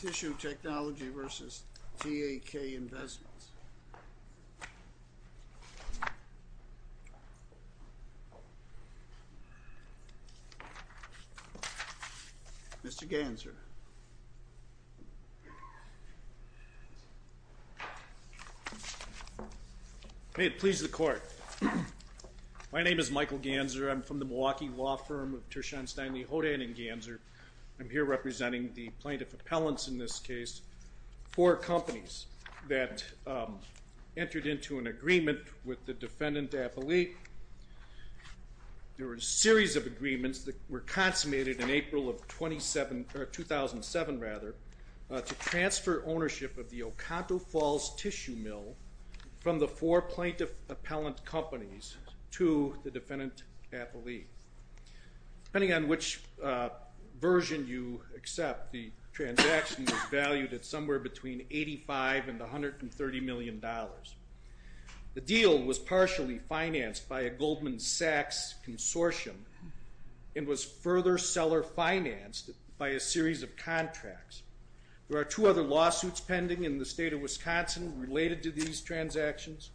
Tissue Technology v. TAK Investments Mr. Ganser May it please the court. My name is Michael Ganser. I'm from the Milwaukee law firm of Tershon, Steinle, Houghton & Ganser. I'm here representing the plaintiff appellants in this case, four companies that entered into an agreement with the defendant's appellate. There were a series of agreements that were consummated in April of 2007 to transfer ownership of the Oconto Falls Tissue Mill from the four plaintiff appellant companies to the defendant appellate. Depending on which version you accept, the transaction was valued at somewhere between $85 and $130 million. The deal was partially financed by a Goldman Sachs consortium and was further seller financed by a series of contracts. There are two other lawsuits pending in the state of Wisconsin related to these transactions.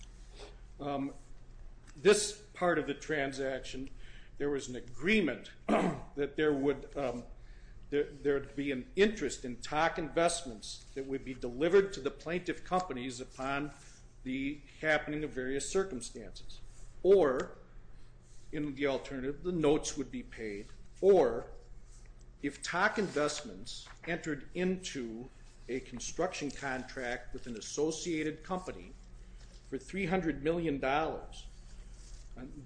This part of the transaction, there was an agreement that there would be an interest in TAK Investments that would be delivered to the plaintiff companies upon the happening of various circumstances. Or, in the alternative, the notes would be paid. Or, if TAK Investments entered into a construction contract with an associated company for $300 million,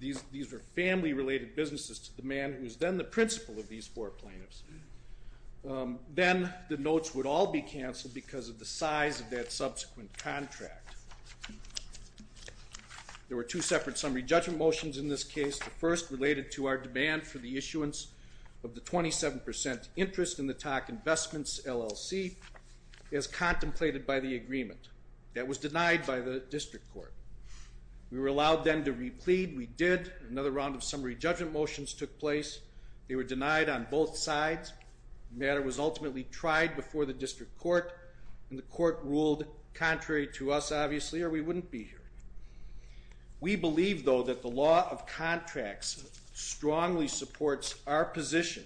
these are family related businesses to the man who is then the principal of these four plaintiffs, then the notes would all be canceled because of the size of that subsequent contract. There were two separate summary judgment motions in this case. The first related to our demand for the issuance of the 27% interest in the TAK Investments LLC as contemplated by the agreement. That was denied by the district court. We were allowed then to replead. We did. Another round of summary judgment motions took place. They were denied on both sides. The matter was ultimately tried before the district court and the court ruled contrary to us, obviously, or we wouldn't be here. We believe, though, that the law of contracts strongly supports our position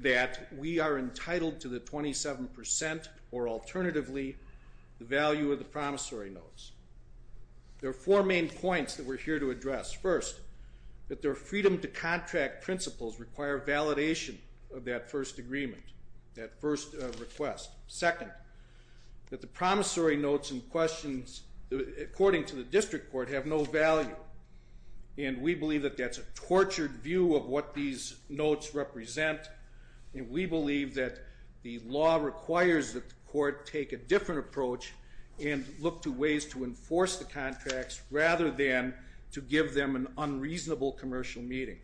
that we are entitled to the 27% or, alternatively, the value of the promissory notes. There are four main points that we're here to address. First, that their freedom to contract principles require validation of that first agreement, that first request. Second, that the promissory notes and questions, according to the district court, have no value. And we believe that that's a tortured view of what these notes represent, and we believe that the law requires that the court take a different approach and look to ways to enforce the contracts rather than to give them an unreasonable commercial meeting.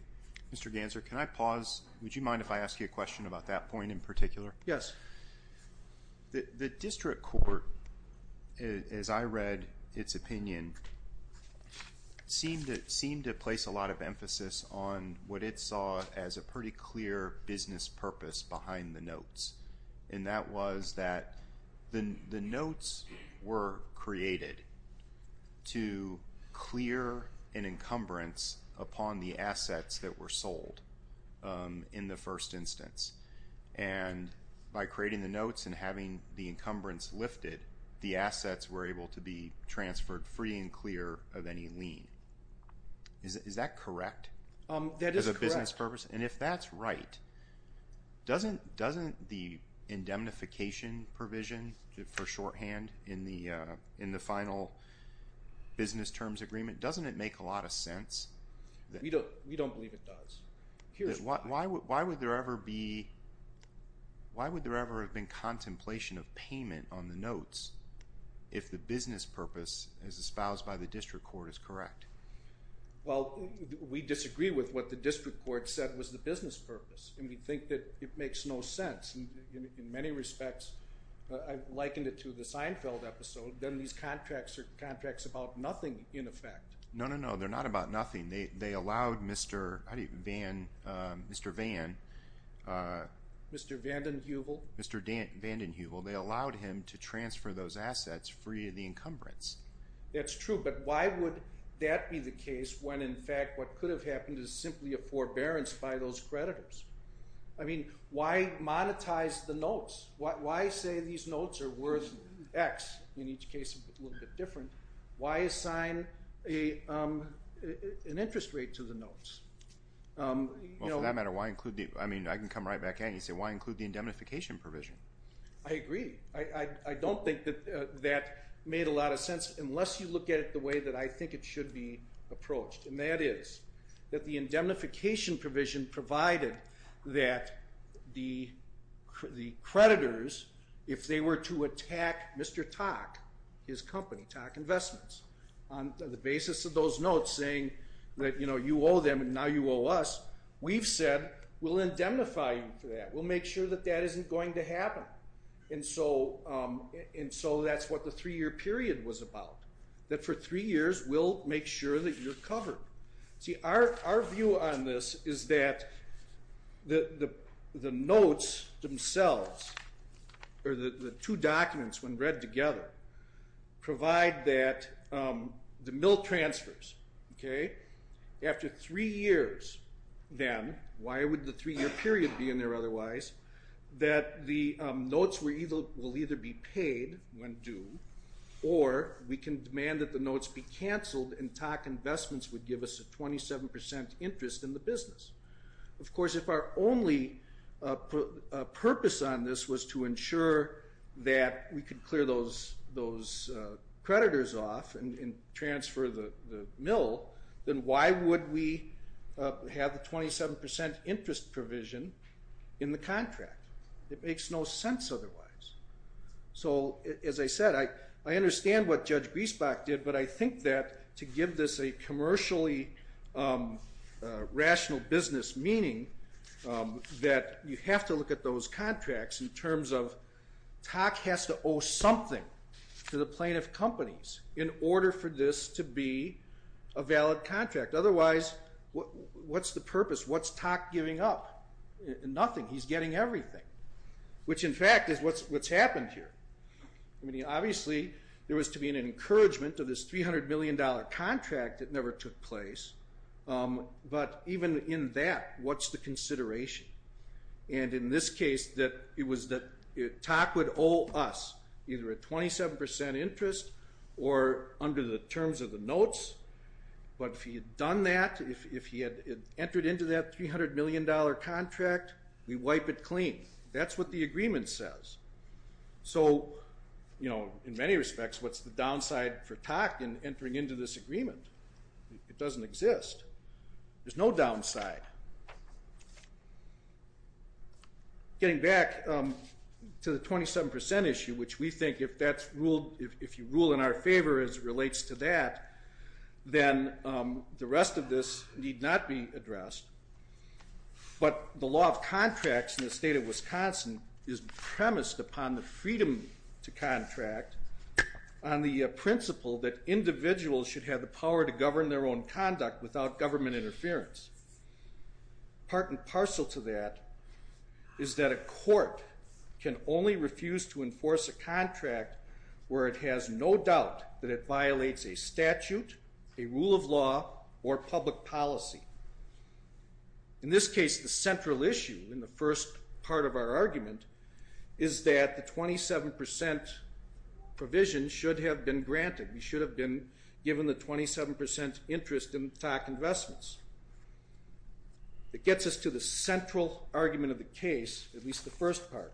Mr. Ganser, can I pause? Would you mind if I ask you a question about that point in particular? Yes. The district court, as I read its opinion, seemed to place a lot of emphasis on what it saw as a pretty clear business purpose behind the notes. And that was that the notes were created to clear an encumbrance upon the assets that were sold in the first instance. And by creating the notes and having the encumbrance lifted, the assets were able to be transferred free and clear of any lien. Is that correct? That is correct. And if that's right, doesn't the indemnification provision for shorthand in the final business terms agreement, doesn't it make a lot of sense? We don't believe it does. Why would there ever have been contemplation of payment on the notes if the business purpose as espoused by the district court is correct? Well, we disagree with what the district court said was the business purpose, and we think that it makes no sense. In many respects, I likened it to the Seinfeld episode, that these contracts are contracts about nothing, in effect. No, no, no. They're not about nothing. They allowed Mr. Vanden Heuvel to transfer those assets free of the encumbrance. That's true, but why would that be the case when, in fact, what could have happened is simply a forbearance by those creditors? I mean, why monetize the notes? Why say these notes are worth X, in each case a little bit different? Why assign an interest rate to the notes? Well, for that matter, I can come right back at you and say, why include the indemnification provision? I agree. I don't think that that made a lot of sense unless you look at it the way that I think it should be approached, and that is that the indemnification provision provided that the creditors, if they were to attack Mr. Tock, his company, Tock Investments, on the basis of those notes saying that, you know, you owe them and now you owe us, we've said we'll indemnify you for that. We'll make sure that that isn't going to happen. And so that's what the three-year period was about, that for three years we'll make sure that you're covered. See, our view on this is that the notes themselves, or the two documents when read together, provide that the mill transfers, okay, after three years then, why would the three-year period be in there otherwise, that the notes will either be paid when due or we can demand that the notes be canceled and Tock Investments would give us a 27% interest in the business. Of course, if our only purpose on this was to ensure that we could clear those creditors off and transfer the mill, then why would we have the 27% interest provision in the contract? It makes no sense otherwise. So, as I said, I understand what Judge Griesbach did, but I think that to give this a commercially rational business meaning, that you have to look at those contracts in terms of Tock has to owe something to the plaintiff companies in order for this to be a valid contract. Otherwise, what's the purpose? What's Tock giving up? Nothing. He's getting everything. Which, in fact, is what's happened here. Obviously, there was to be an encouragement of this $300 million contract that never took place, but even in that, what's the consideration? In this case, it was that Tock would owe us either a 27% interest or under the terms of the notes, but if he had done that, if he had entered into that $300 million contract, we wipe it clean. That's what the agreement says. So, you know, in many respects, what's the downside for Tock in entering into this agreement? It doesn't exist. There's no downside. Getting back to the 27% issue, which we think if that's ruled, if you rule in our favor as it relates to that, then the rest of this need not be addressed. But the law of contracts in the state of Wisconsin is premised upon the freedom to contract on the principle that individuals should have the power to govern their own conduct without government interference. Part and parcel to that is that a court can only refuse to enforce a contract where it has no doubt that it violates a statute, a rule of law, or public policy. In this case, the central issue in the first part of our argument is that the 27% provision should have been granted. We should have been given the 27% interest in Tock investments. It gets us to the central argument of the case, at least the first part.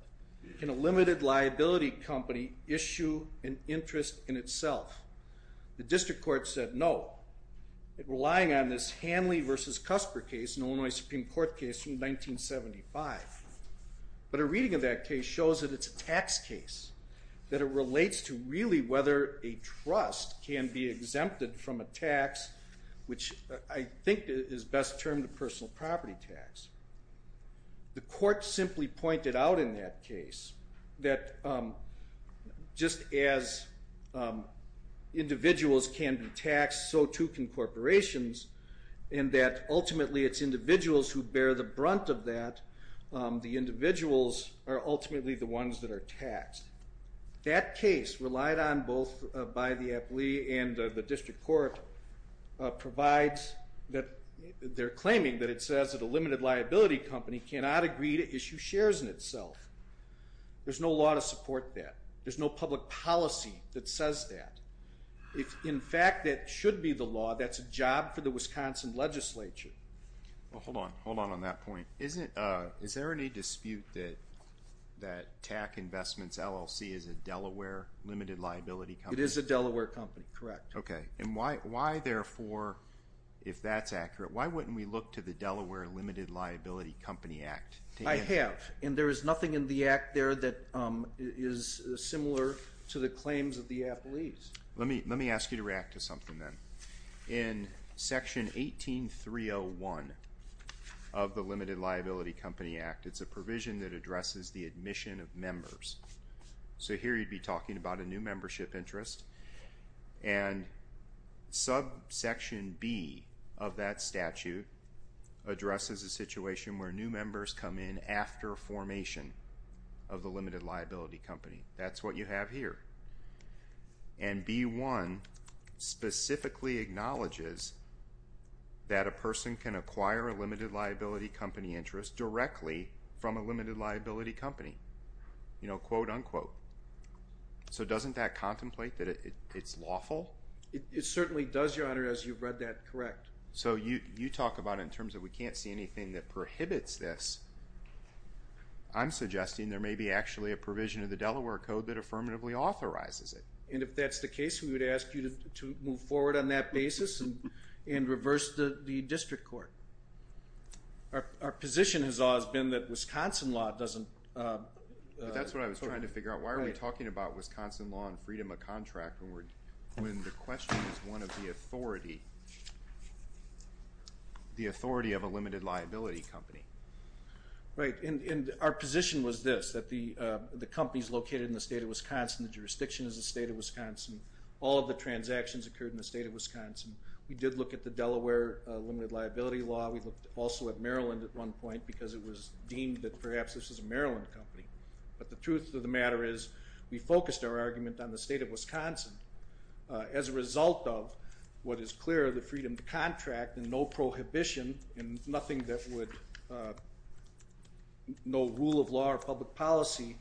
Can a limited liability company issue an interest in itself? The district court said no, relying on this Hanley v. Cusper case, an Illinois Supreme Court case from 1975. But a reading of that case shows that it's a tax case, that it relates to really whether a trust can be exempted from a tax, which I think is best termed a personal property tax. The court simply pointed out in that case that just as individuals can be taxed, so too can corporations, and that ultimately it's individuals who bear the brunt of that. The individuals are ultimately the ones that are taxed. That case, relied on both by the appellee and the district court, provides that they're claiming that it says that a limited liability company cannot agree to issue shares in itself. There's no law to support that. There's no public policy that says that. If in fact that should be the law, that's a job for the Wisconsin legislature. Well, hold on. Hold on on that point. Is there any dispute that TAC Investments LLC is a Delaware limited liability company? It is a Delaware company, correct. Okay. And why, therefore, if that's accurate, why wouldn't we look to the Delaware Limited Liability Company Act? I have, and there is nothing in the act there that is similar to the claims of the appellees. Let me ask you to react to something then. In Section 18301 of the Limited Liability Company Act, it's a provision that addresses the admission of members. So here you'd be talking about a new membership interest, and subsection B of that statute addresses a situation where new members come in after formation of the limited liability company. That's what you have here. And B1 specifically acknowledges that a person can acquire a limited liability company interest directly from a limited liability company. You know, quote, unquote. So doesn't that contemplate that it's lawful? It certainly does, Your Honor, as you've read that correct. So you talk about it in terms of we can't see anything that prohibits this. I'm suggesting there may be actually a provision of the Delaware Code that affirmatively authorizes it. And if that's the case, we would ask you to move forward on that basis and reverse the district court. Our position has always been that Wisconsin law doesn't... ...the authority of a limited liability company. Right, and our position was this, that the companies located in the state of Wisconsin, the jurisdiction is the state of Wisconsin, all of the transactions occurred in the state of Wisconsin. We did look at the Delaware limited liability law. We looked also at Maryland at one point because it was deemed that perhaps this was a Maryland company. But the truth of the matter is we focused our argument on the state of Wisconsin. As a result of what is clear, the freedom to contract and no prohibition and nothing that would... ...no rule of law or public policy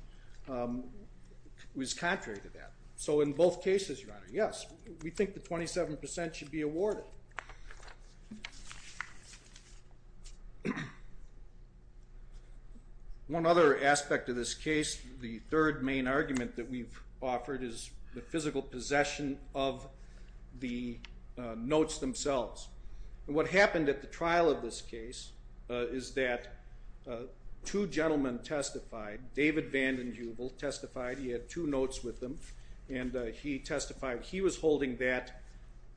was contrary to that. So in both cases, Your Honor, yes, we think the 27% should be awarded. So... ...one other aspect of this case, the third main argument that we've offered is the physical possession of the notes themselves. And what happened at the trial of this case is that two gentlemen testified. David Vanden Heuvel testified. He had two notes with him, and he testified. He was holding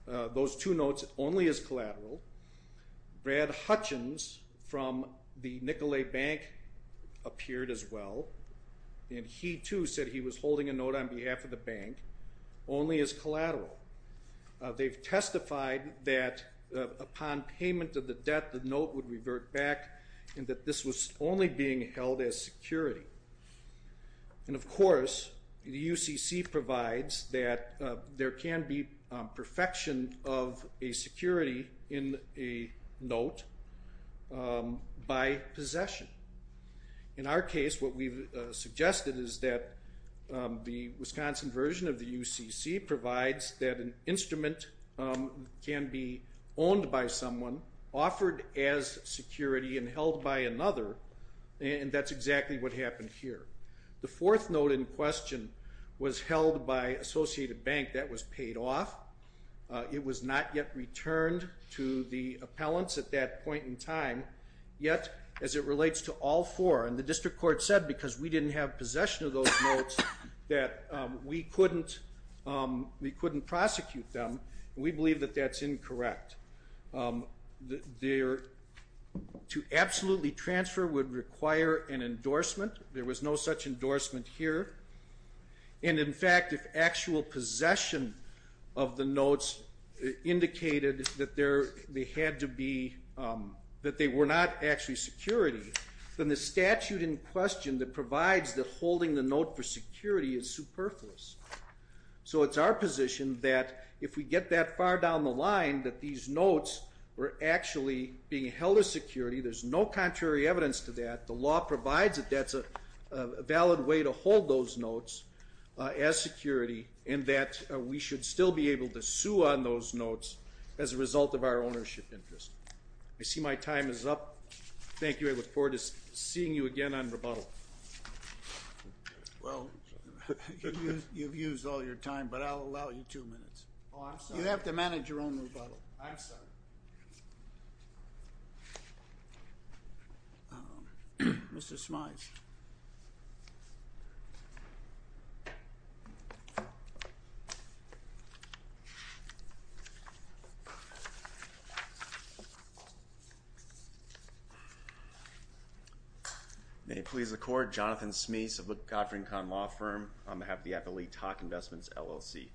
those two notes only as collateral. Brad Hutchins from the Nicolet Bank appeared as well, and he too said he was holding a note on behalf of the bank only as collateral. They've testified that upon payment of the debt, the note would revert back and that this was only being held as security. And of course, the UCC provides that there can be perfection of a security in a note by possession. In our case, what we've suggested is that the Wisconsin version of the UCC provides that an instrument can be owned by someone, offered as security, and held by another, and that's exactly what happened here. The fourth note in question was held by Associated Bank. That was paid off. It was not yet returned to the appellants at that point in time. Yet, as it relates to all four, and the district court said because we didn't have possession of those notes that we couldn't prosecute them, we believe that that's incorrect. To absolutely transfer would require an endorsement. There was no such endorsement here. And in fact, if actual possession of the notes indicated that they were not actually security, then the statute in question that provides that holding the note for security is superfluous. So it's our position that if we get that far down the line that these notes were actually being held as security, there's no contrary evidence to that. The law provides that that's a valid way to hold those notes as security, and that we should still be able to sue on those notes as a result of our ownership interest. I see my time is up. Thank you. I look forward to seeing you again on rebuttal. Well, you've used all your time, but I'll allow you two minutes. Oh, I'm sorry. You have to manage your own rebuttal. I'm sorry. Mr. Smyth. Thank you. May it please the Court, Jonathan Smyth of the Godfrey & Kahn Law Firm on behalf of the Appellate Talk Investments, LLC.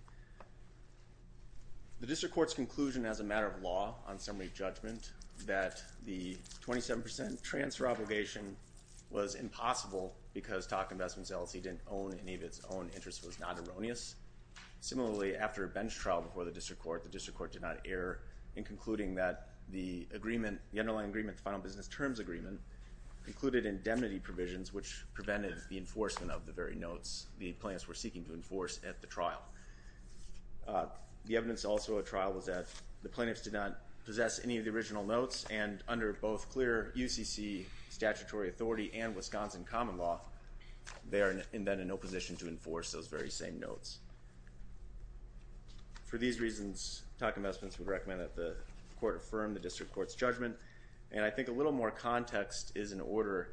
The District Court's conclusion as a matter of law on summary judgment that the 27 percent transfer obligation was impossible because Talk Investments, LLC didn't own any of its own interest was not erroneous. Similarly, after a bench trial before the District Court, the District Court did not err in concluding that the underlying agreement, the final business terms agreement, included indemnity provisions, which prevented the enforcement of the very notes the plaintiffs were seeking to enforce at the trial. The evidence also at trial was that the plaintiffs did not possess any of the original notes and under both clear UCC statutory authority and Wisconsin common law, they are then in no position to enforce those very same notes. For these reasons, Talk Investments would recommend that the Court affirm the District Court's judgment, and I think a little more context is in order.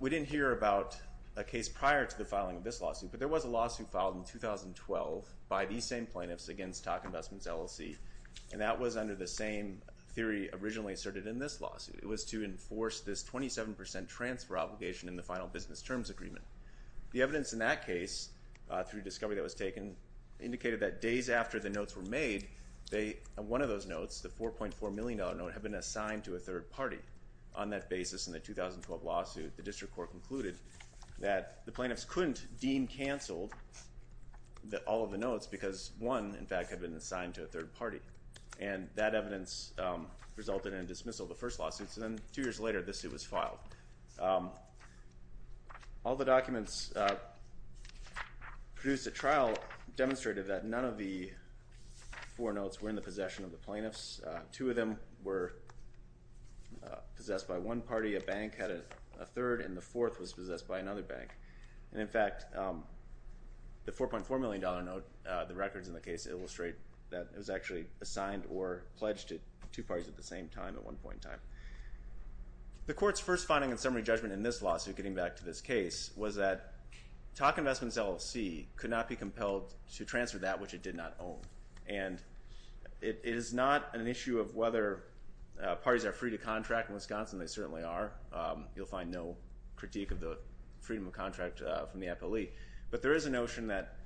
We didn't hear about a case prior to the filing of this lawsuit, but there was a lawsuit filed in 2012 by these same plaintiffs against Talk Investments, LLC, and that was under the same theory originally asserted in this lawsuit. It was to enforce this 27 percent transfer obligation in the final business terms agreement. The evidence in that case, through discovery that was taken, indicated that days after the notes were made, one of those notes, the $4.4 million note, had been assigned to a third party. On that basis, in the 2012 lawsuit, the District Court concluded that the plaintiffs couldn't deem canceled all of the notes because one, in fact, had been assigned to a third party. And that evidence resulted in dismissal of the first lawsuit, so then two years later this suit was filed. All the documents produced at trial demonstrated that none of the four notes were in the possession of the plaintiffs. Two of them were possessed by one party. A bank had a third, and the fourth was possessed by another bank. And in fact, the $4.4 million note, the records in the case illustrate that it was actually assigned or pledged to two parties at the same time at one point in time. The Court's first finding and summary judgment in this lawsuit, getting back to this case, was that Talk Investments, LLC could not be compelled to transfer that which it did not own. And it is not an issue of whether parties are free to contract in Wisconsin. They certainly are. You'll find no critique of the freedom of contract from the appellee. But there is a notion that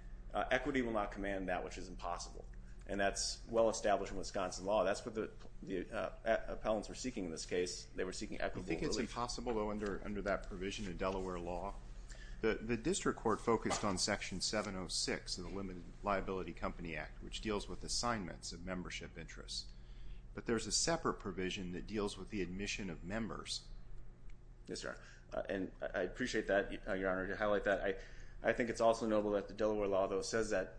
equity will not command that which is impossible, and that's well-established in Wisconsin law. That's what the appellants were seeking in this case. They were seeking equity. I think it's impossible, though, under that provision in Delaware law. The District Court focused on Section 706 of the Limited Liability Company Act, which deals with assignments of membership interests. But there's a separate provision that deals with the admission of members. Yes, sir. And I appreciate that, Your Honor, to highlight that. I think it's also notable that the Delaware law, though, says that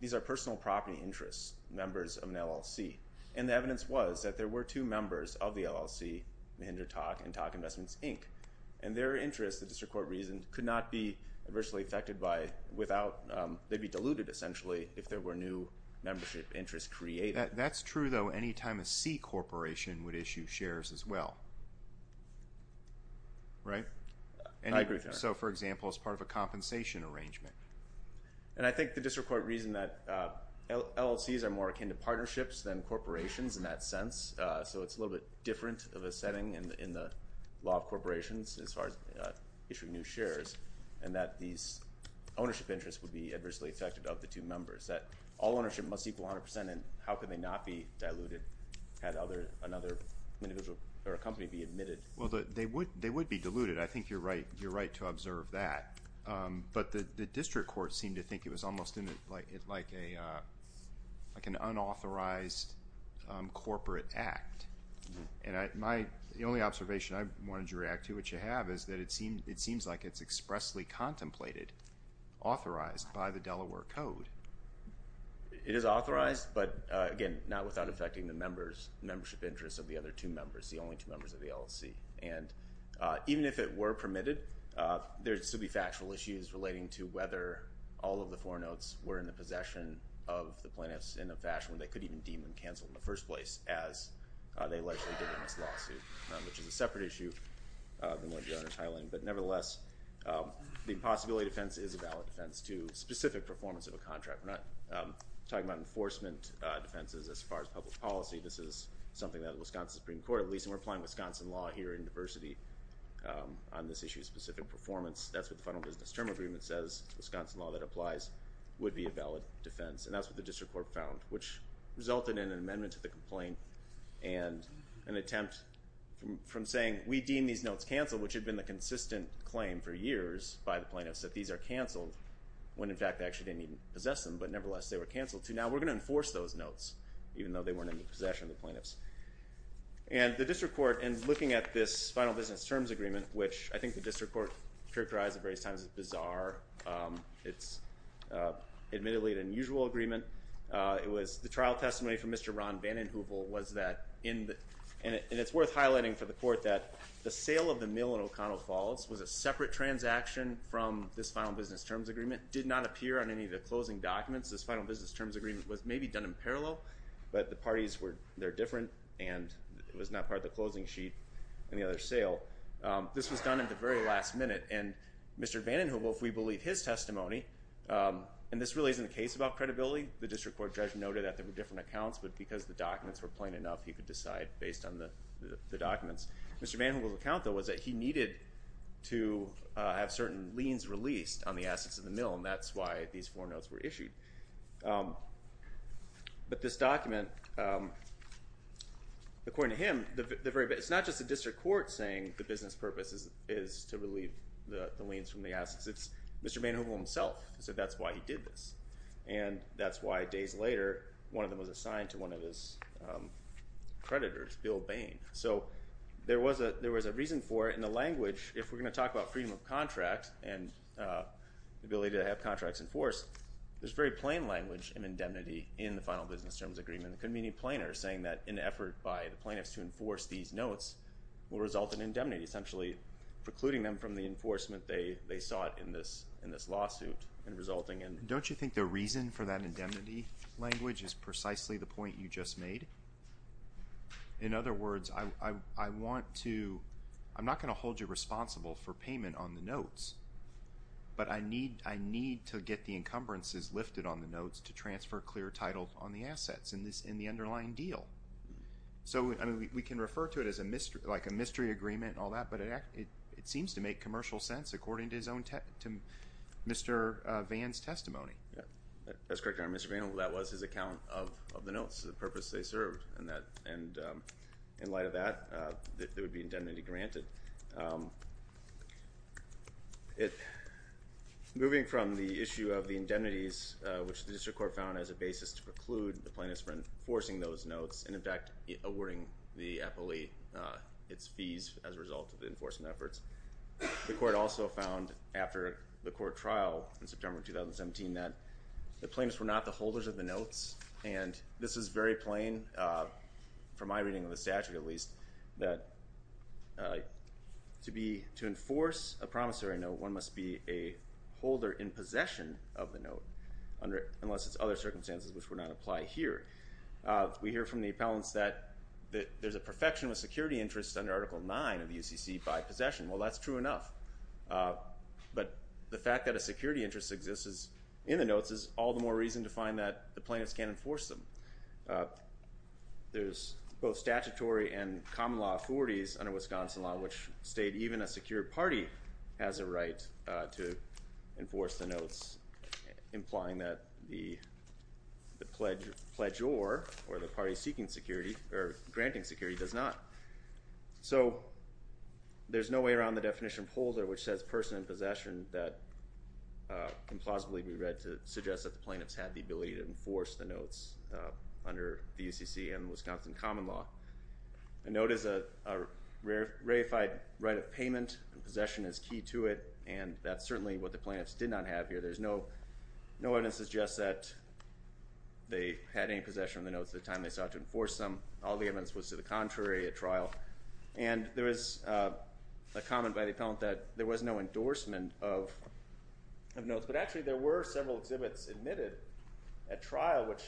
these are personal property interests, members of an LLC. And the evidence was that there were two members of the LLC, Mahinder Talk and Talk Investments, Inc., and their interests, the District Court reasoned, could not be adversely affected by without they'd be diluted, essentially, if there were new membership interests created. That's true, though, any time a C corporation would issue shares as well. Right? I agree, Your Honor. So, for example, as part of a compensation arrangement. And I think the District Court reasoned that LLCs are more akin to partnerships than corporations in that sense, so it's a little bit different of a setting in the law of corporations as far as issuing new shares, and that these ownership interests would be adversely affected of the two members, that all ownership must equal 100%, and how can they not be diluted had another individual or a company be admitted? Well, they would be diluted. I think you're right to observe that. But the District Court seemed to think it was almost like an unauthorized corporate act. And the only observation I wanted you to react to, which you have, is that it seems like it's expressly contemplated, authorized by the Delaware Code. It is authorized, but, again, not without affecting the membership interests of the other two members, the only two members of the LLC. And even if it were permitted, there would still be factual issues relating to whether all of the four notes were in the possession of the plaintiffs in a fashion where they could even deem them canceled in the first place, as they allegedly did in this lawsuit, which is a separate issue than what the owner is highlighting. But nevertheless, the impossibility defense is a valid defense to specific performance of a contract. We're not talking about enforcement defenses as far as public policy. This is something that the Wisconsin Supreme Court, at least, and we're applying Wisconsin law here in diversity on this issue of specific performance. That's what the Fundal Business Term Agreement says. The Wisconsin law that applies would be a valid defense. And that's what the District Court found, which resulted in an amendment to the complaint and an attempt from saying we deem these notes canceled, which had been the consistent claim for years by the plaintiffs that these are canceled, when, in fact, they actually didn't even possess them, but, nevertheless, they were canceled. Now we're going to enforce those notes, even though they weren't in the possession of the plaintiffs. And the District Court, in looking at this Final Business Terms Agreement, which I think the District Court characterized at various times as bizarre, it's admittedly an unusual agreement. The trial testimony from Mr. Ron Vanden Heuvel was that, and it's worth highlighting for the Court that the sale of the mill in Oconto Falls was a separate transaction from this Final Business Terms Agreement, did not appear on any of the closing documents. This Final Business Terms Agreement was maybe done in parallel, but the parties were different, and it was not part of the closing sheet in the other sale. This was done at the very last minute, and Mr. Vanden Heuvel, if we believe his testimony, and this really isn't the case about credibility. The District Court judge noted that there were different accounts, but because the documents were plain enough, he could decide based on the documents. Mr. Vanden Heuvel's account, though, was that he needed to have certain liens released on the assets of the mill, and that's why these four notes were issued. But this document, according to him, it's not just the District Court saying the business purpose is to relieve the liens from the assets. It's Mr. Vanden Heuvel himself who said that's why he did this, and that's why days later one of them was assigned to one of his creditors, Bill Bain. So there was a reason for it, and the language, if we're going to talk about freedom of contract and the ability to have contracts enforced, there's very plain language in indemnity in the Final Business Terms Agreement. It couldn't be any plainer saying that an effort by the plaintiffs to enforce these notes will result in indemnity, essentially precluding them from the enforcement they sought in this lawsuit and resulting in. Don't you think the reason for that indemnity language is precisely the point you just made? In other words, I want to, I'm not going to hold you responsible for payment on the notes, but I need to get the encumbrances lifted on the notes to transfer clear title on the assets in the underlying deal. So, I mean, we can refer to it like a mystery agreement and all that, but it seems to make commercial sense according to Mr. Vann's testimony. That's correct, Your Honor. Mr. Vann, that was his account of the notes, the purpose they served. And in light of that, there would be indemnity granted. Moving from the issue of the indemnities, which the district court found as a basis to preclude the plaintiffs from enforcing those notes and, in fact, awarding the appellee its fees as a result of the enforcement efforts. The court also found, after the court trial in September 2017, that the plaintiffs were not the holders of the notes, and this is very plain from my reading of the statute, at least, that to enforce a promissory note, one must be a holder in possession of the note, unless it's other circumstances which would not apply here. We hear from the appellants that there's a perfection of security interests under Article 9 of the UCC by possession. Well, that's true enough. But the fact that a security interest exists in the notes is all the more reason to find that the plaintiffs can't enforce them. There's both statutory and common law authorities under Wisconsin law, which state even a secure party has a right to enforce the notes, implying that the pledgeor or the party seeking security or granting security does not. So there's no way around the definition of holder, which says person in possession, that can plausibly be read to suggest that the plaintiffs had the ability to enforce the notes under the UCC and Wisconsin common law. A note is a ratified right of payment, and possession is key to it, and that's certainly what the plaintiffs did not have here. There's no evidence to suggest that they had any possession of the notes at the time they sought to enforce them. All the evidence was to the contrary at trial. And there is a comment by the appellant that there was no endorsement of notes, but actually there were several exhibits admitted at trial which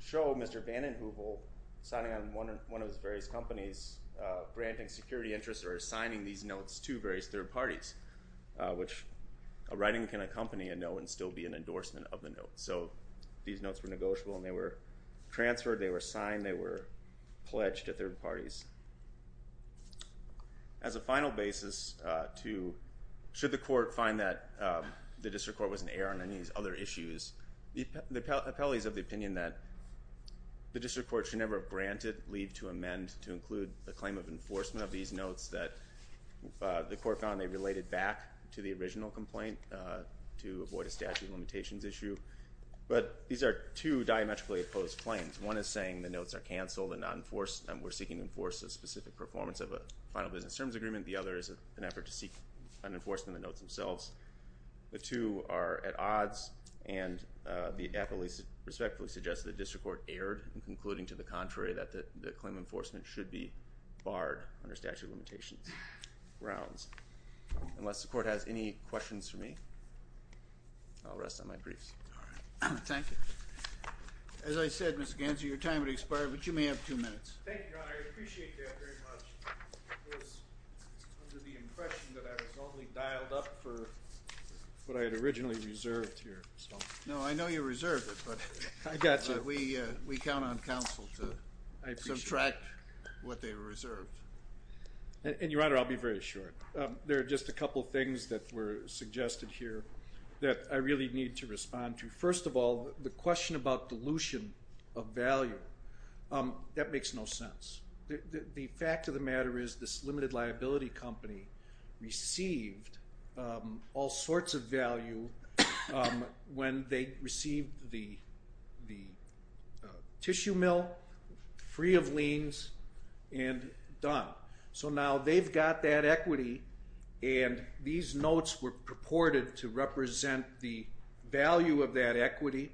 show Mr. Vanden Heuvel signing on one of his various companies, granting security interests or assigning these notes to various third parties, which a writing can accompany a note and still be an endorsement of the note. So these notes were negotiable and they were transferred, they were signed, they were pledged to third parties. As a final basis, should the court find that the district court was in error on any of these other issues, the appellate is of the opinion that the district court should never have granted leave to amend to include the claim of enforcement of these notes that the court found they related back to the original complaint to avoid a statute of limitations issue. But these are two diametrically opposed claims. One is saying the notes are canceled and we're seeking to enforce a specific performance of a final business terms agreement. The other is an effort to seek an enforcement of the notes themselves. The two are at odds and the appellate respectfully suggests the district court erred in concluding to the contrary that the claim of enforcement should be barred under statute of limitations grounds. Unless the court has any questions for me, I'll rest on my briefs. All right. Thank you. As I said, Mr. Ganser, your time has expired, but you may have two minutes. Thank you, Your Honor. Your Honor, I appreciate that very much. It was under the impression that I was only dialed up for what I had originally reserved here. No, I know you reserved it, but we count on counsel to subtract what they reserved. And, Your Honor, I'll be very short. There are just a couple things that were suggested here that I really need to respond to. First of all, the question about dilution of value, that makes no sense. The fact of the matter is this limited liability company received all sorts of value when they received the tissue mill, free of liens, and done. So now they've got that equity, and these notes were purported to represent the value of that equity.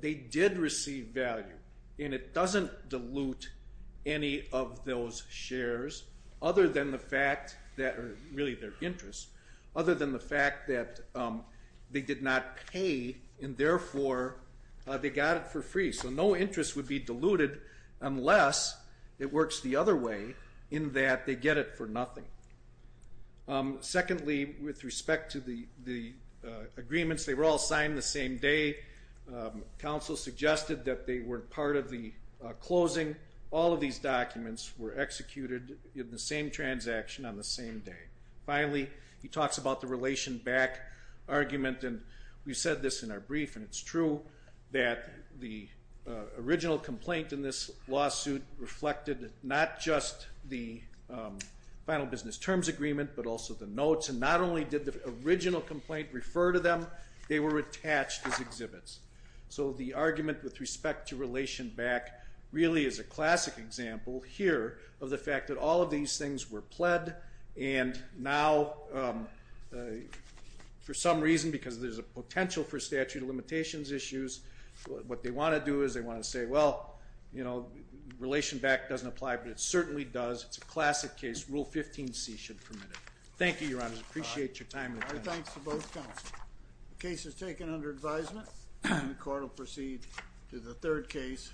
They did receive value, and it doesn't dilute any of those shares other than the fact that they did not pay, and therefore they got it for free. So no interest would be diluted unless it works the other way in that they get it for nothing. Secondly, with respect to the agreements, they were all signed the same day. Counsel suggested that they were part of the closing. All of these documents were executed in the same transaction on the same day. Finally, he talks about the relation back argument, and we said this in our brief, and it's true that the original complaint in this lawsuit reflected not just the final business terms agreement but also the notes, and not only did the original complaint refer to them, they were attached as exhibits. So the argument with respect to relation back really is a classic example here of the fact that all of these things were pled, and now for some reason, because there's a potential for statute of limitations issues, what they want to do is they want to say, well, you know, relation back doesn't apply, but it certainly does. It's a classic case. Rule 15C should permit it. Thank you, Your Honor. I appreciate your time. All right. Thanks to both counsel. The case is taken under advisement, and the court will proceed to the third case.